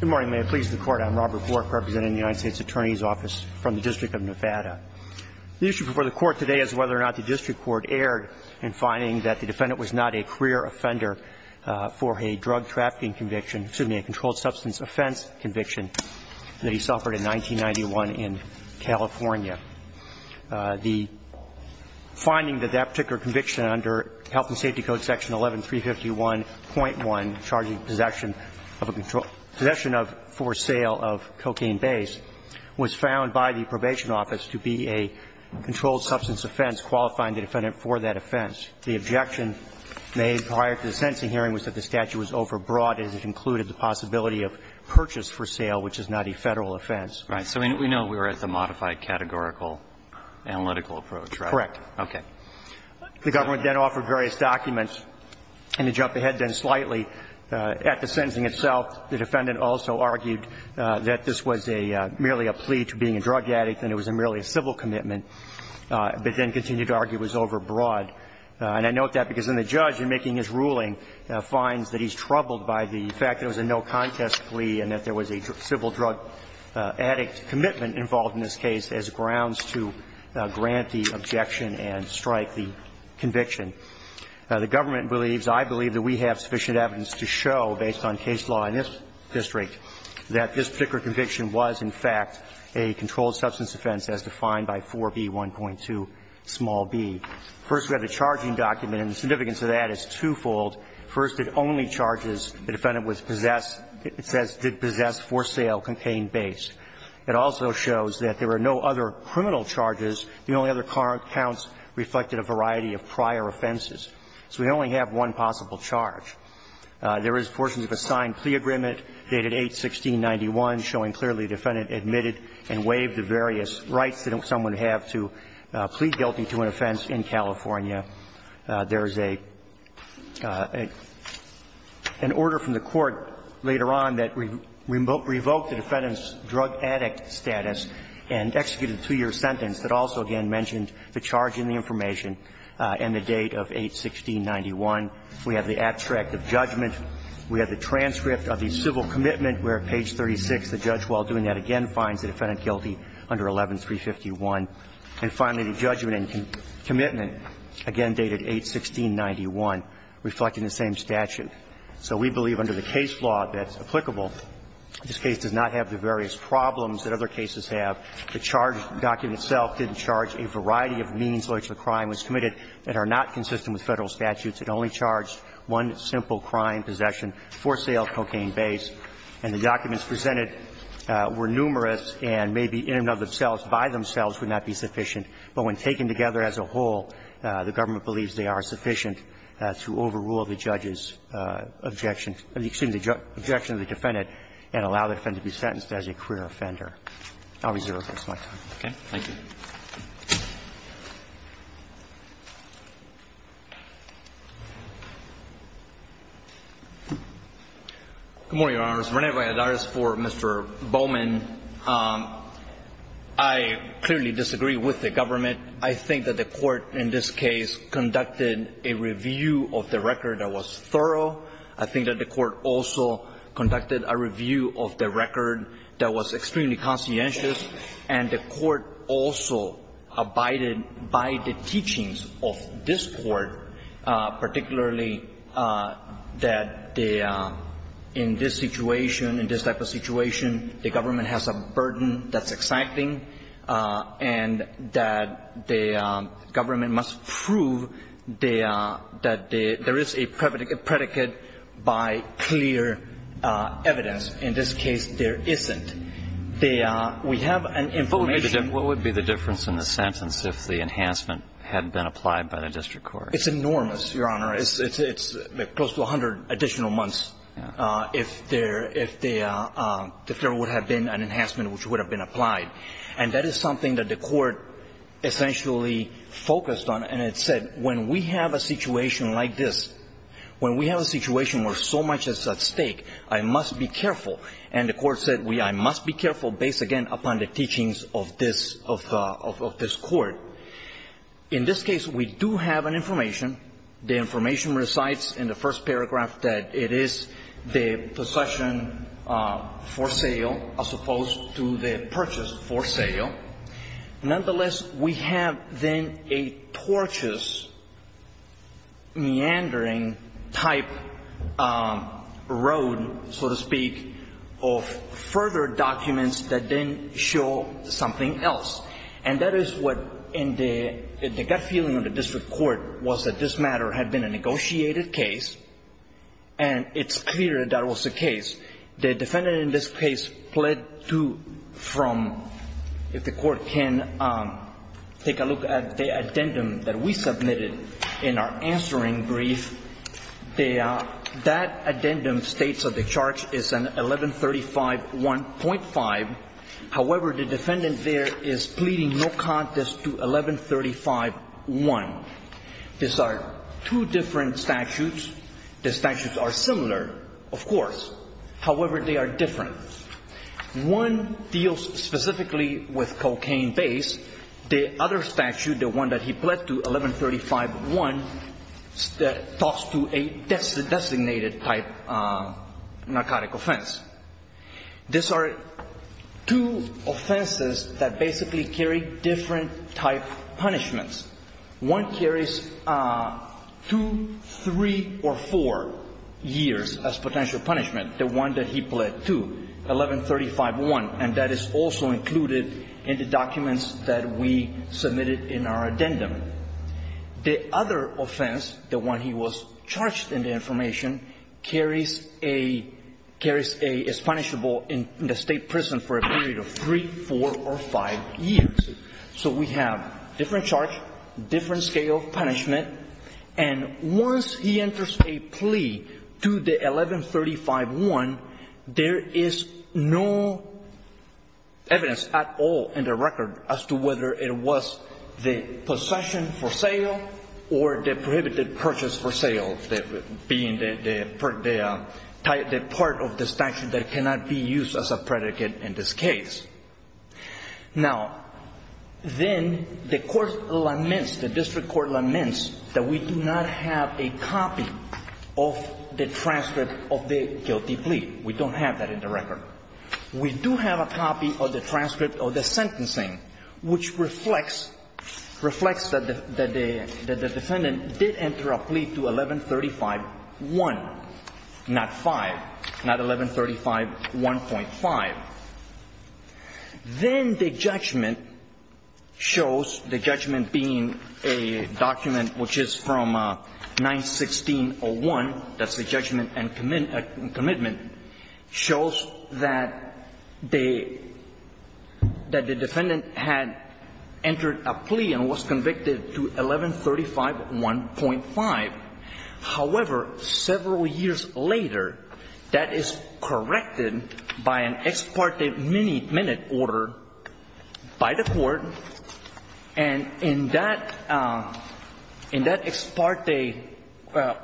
Good morning. May it please the Court, I'm Robert Wark representing the United States Attorney's Office from the District of Nevada. The issue before the Court today is whether or not the District Court erred in finding that the defendant was not a career offender for a drug trafficking conviction, excuse me, a controlled substance offense conviction that he suffered in 1991 in California. The finding that that particular conviction under Health and Safety Code Section 11351.1, charging possession of a control – possession of for sale of cocaine base was found by the probation office to be a controlled substance offense qualifying the defendant for that offense. The objection made prior to the sentencing hearing was that the statute was overbroad as it included the possibility of purchase for sale, which is not a Federal offense. Right. So we know we're at the modified categorical analytical approach, right? Correct. Okay. The government then offered various documents. And to jump ahead then slightly, at the sentencing itself, the defendant also argued that this was a – merely a plea to being a drug addict and it was merely a civil commitment, but then continued to argue it was overbroad. And I note that because then the judge, in making his ruling, finds that he's troubled by the fact that it was a no contest plea and that there was a civil drug addict commitment involved in this case as grounds to grant the objection and strike the conviction. The government believes – I believe that we have sufficient evidence to show, based on case law in this district, that this particular conviction was, in fact, a controlled substance offense as defined by 4B1.2 small b. First, we have the charging document, and the significance of that is twofold. First, it only charges the defendant with possessed – it says, did possess, for sale, cocaine-based. It also shows that there were no other criminal charges. The only other current counts reflected a variety of prior offenses. So we only have one possible charge. There is portions of a signed plea agreement dated 8-1691 showing clearly the defendant admitted and waived the various rights that someone would have to plea guilty to an offense in California. There is a – an order from the Court later on that revoked the defendant's drug addict status and executed a two-year sentence that also, again, mentioned the charge in the information and the date of 8-1691. We have the abstract of judgment. We have the transcript of the civil commitment where, at page 36, the judge, while doing that, again finds the defendant guilty under 11-351. And finally, the judgment and commitment, again dated 8-1691, reflecting the same statute. So we believe under the case law that's applicable. This case does not have the various problems that other cases have. The charge document itself didn't charge a variety of means by which the crime was committed that are not consistent with Federal statutes. It only charged one simple crime, possession, for sale, cocaine-based. And the documents presented were numerous, and maybe in and of themselves, by themselves, would not be sufficient. But when taken together as a whole, the government believes they are sufficient to overrule the judge's objection – excuse me, the objection of the defendant and allow the defendant to be sentenced as a queer offender. I'll reserve my time. Roberts. Thank you. Good morning, Your Honors. Rene Valladares for Mr. Bowman. I clearly disagree with the government. I think that the Court in this case conducted a review of the record that was thorough. I think that the Court also conducted a review of the record that was extremely conscientious, and the Court also abided by the teachings of this Court, particularly that in this situation, in this type of situation, the government has a burden that's exciting, and that the government must prove that there is a predicate by clear evidence. In this case, there isn't. We have an information – What would be the difference in the sentence if the enhancement hadn't been applied by the district court? It's enormous, Your Honor. It's close to 100 additional months if there would have been an enhancement which would have been applied. And that is something that the Court essentially focused on, and it said, when we have a situation like this, when we have a situation where so much is at stake, I must be careful. And the Court said, I must be careful based, again, upon the teachings of this – of this Court. In this case, we do have an information. The information recites in the first paragraph that it is the possession for sale as opposed to the purchase for sale. Nonetheless, we have then a tortuous, meandering-type road, so to speak, of further documents that then show something else. And that is what in the gut feeling of the district court was that this matter had been a negotiated case, and it's clear that was the case. The defendant in this case pled to from, if the Court can take a look at the addendum that we submitted in our answering brief, that addendum states that the charge is an 1135.1.5. However, the defendant there is pleading no contest to 1135.1. These are two different statutes. The statutes are similar, of course. However, they are different. One deals specifically with cocaine-based. The other statute, the one that he pled to, 1135.1, talks to a designated-type narcotic offense. These are two offenses that basically carry different-type punishments. One carries two, three, or four years as potential punishment, the one that he pled to, 1135.1, and that is also included in the documents that we submitted in our addendum. The other offense, the one he was charged in the information, carries a, is punishable in the State prison for a period of three, four, or five years. So we have different charge, different scale of punishment. And once he enters a plea to the 1135.1, there is no evidence at all in the record as to whether it was the possession for sale or the prohibited purchase for sale, being the part of the statute that cannot be used as a predicate in this case. Now, then the court laments, the district court laments that we do not have a copy of the transcript of the guilty plea. We don't have that in the record. We do have a copy of the transcript of the sentencing, which reflects that the defendant did enter a plea to 1135.1, not 5, not 1135.1.5. Then the judgment shows, the judgment being a document which is from 916.01, that's the judgment and commitment, shows that the defendant had entered a plea and was convicted to 1135.1.5. However, several years later, that is corrected by an ex parte minute order by the court. And in that ex parte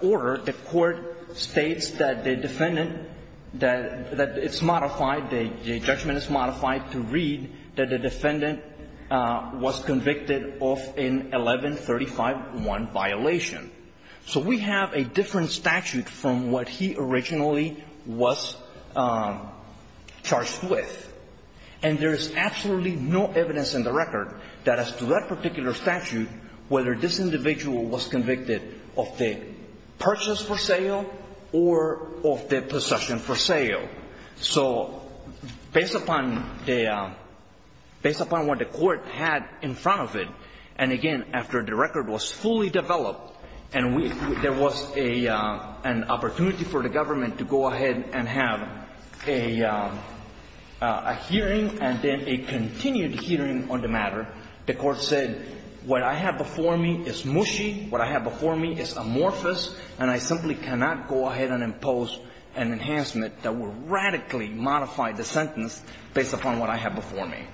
order, the court states that the defendant, that it's modified, the judgment is modified to read that the defendant was convicted of an 1135.1 violation. So we have a different statute from what he originally was charged with. And there is absolutely no evidence in the record that as to that particular statute, whether this individual was convicted of the purchase for sale or of the possession for sale. So based upon what the court had in front of it, and again after the record was fully developed and there was an opportunity for the government to go ahead and have a hearing and then a continued hearing on the matter, the court said, what I have before me is mushy, what I have before me is amorphous, and I simply cannot go ahead and impose an enhancement that would radically modify the sentence based upon what I have before me.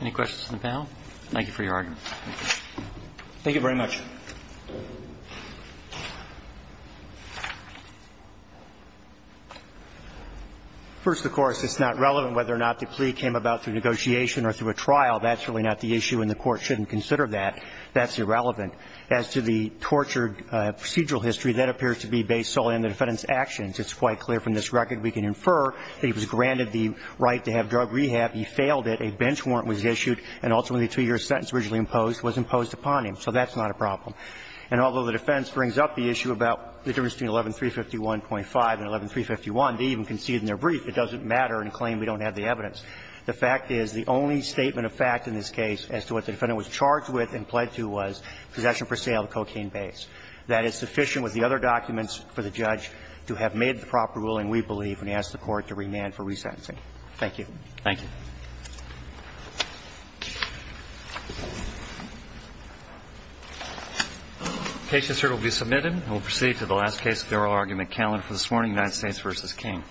Any questions of the panel? Thank you for your argument. Thank you very much. First, of course, it's not relevant whether or not the plea came about through negotiation or through a trial. That's really not the issue, and the court shouldn't consider that. That's irrelevant. As to the tortured procedural history, that appears to be based solely on the defendant's actions. It's quite clear from this record we can infer that he was granted the right to have drug rehab. He failed it. A bench warrant was issued, and ultimately a 2-year sentence originally imposed was imposed upon him. So that's not a problem. And although the defense brings up the issue about the difference between 11351.5 and 11351, they even conceded in their brief it doesn't matter and claim we don't have the evidence. The fact is the only statement of fact in this case as to what the defendant was charged with and pled to was possession per se of a cocaine base. That is sufficient with the other documents for the judge to have made the proper ruling, we believe, and ask the Court to remand for resentencing. Thank you. Thank you. The case, sir, will be submitted. And we'll proceed to the last case of the oral argument calendar for this morning, United States v. King. Thank you.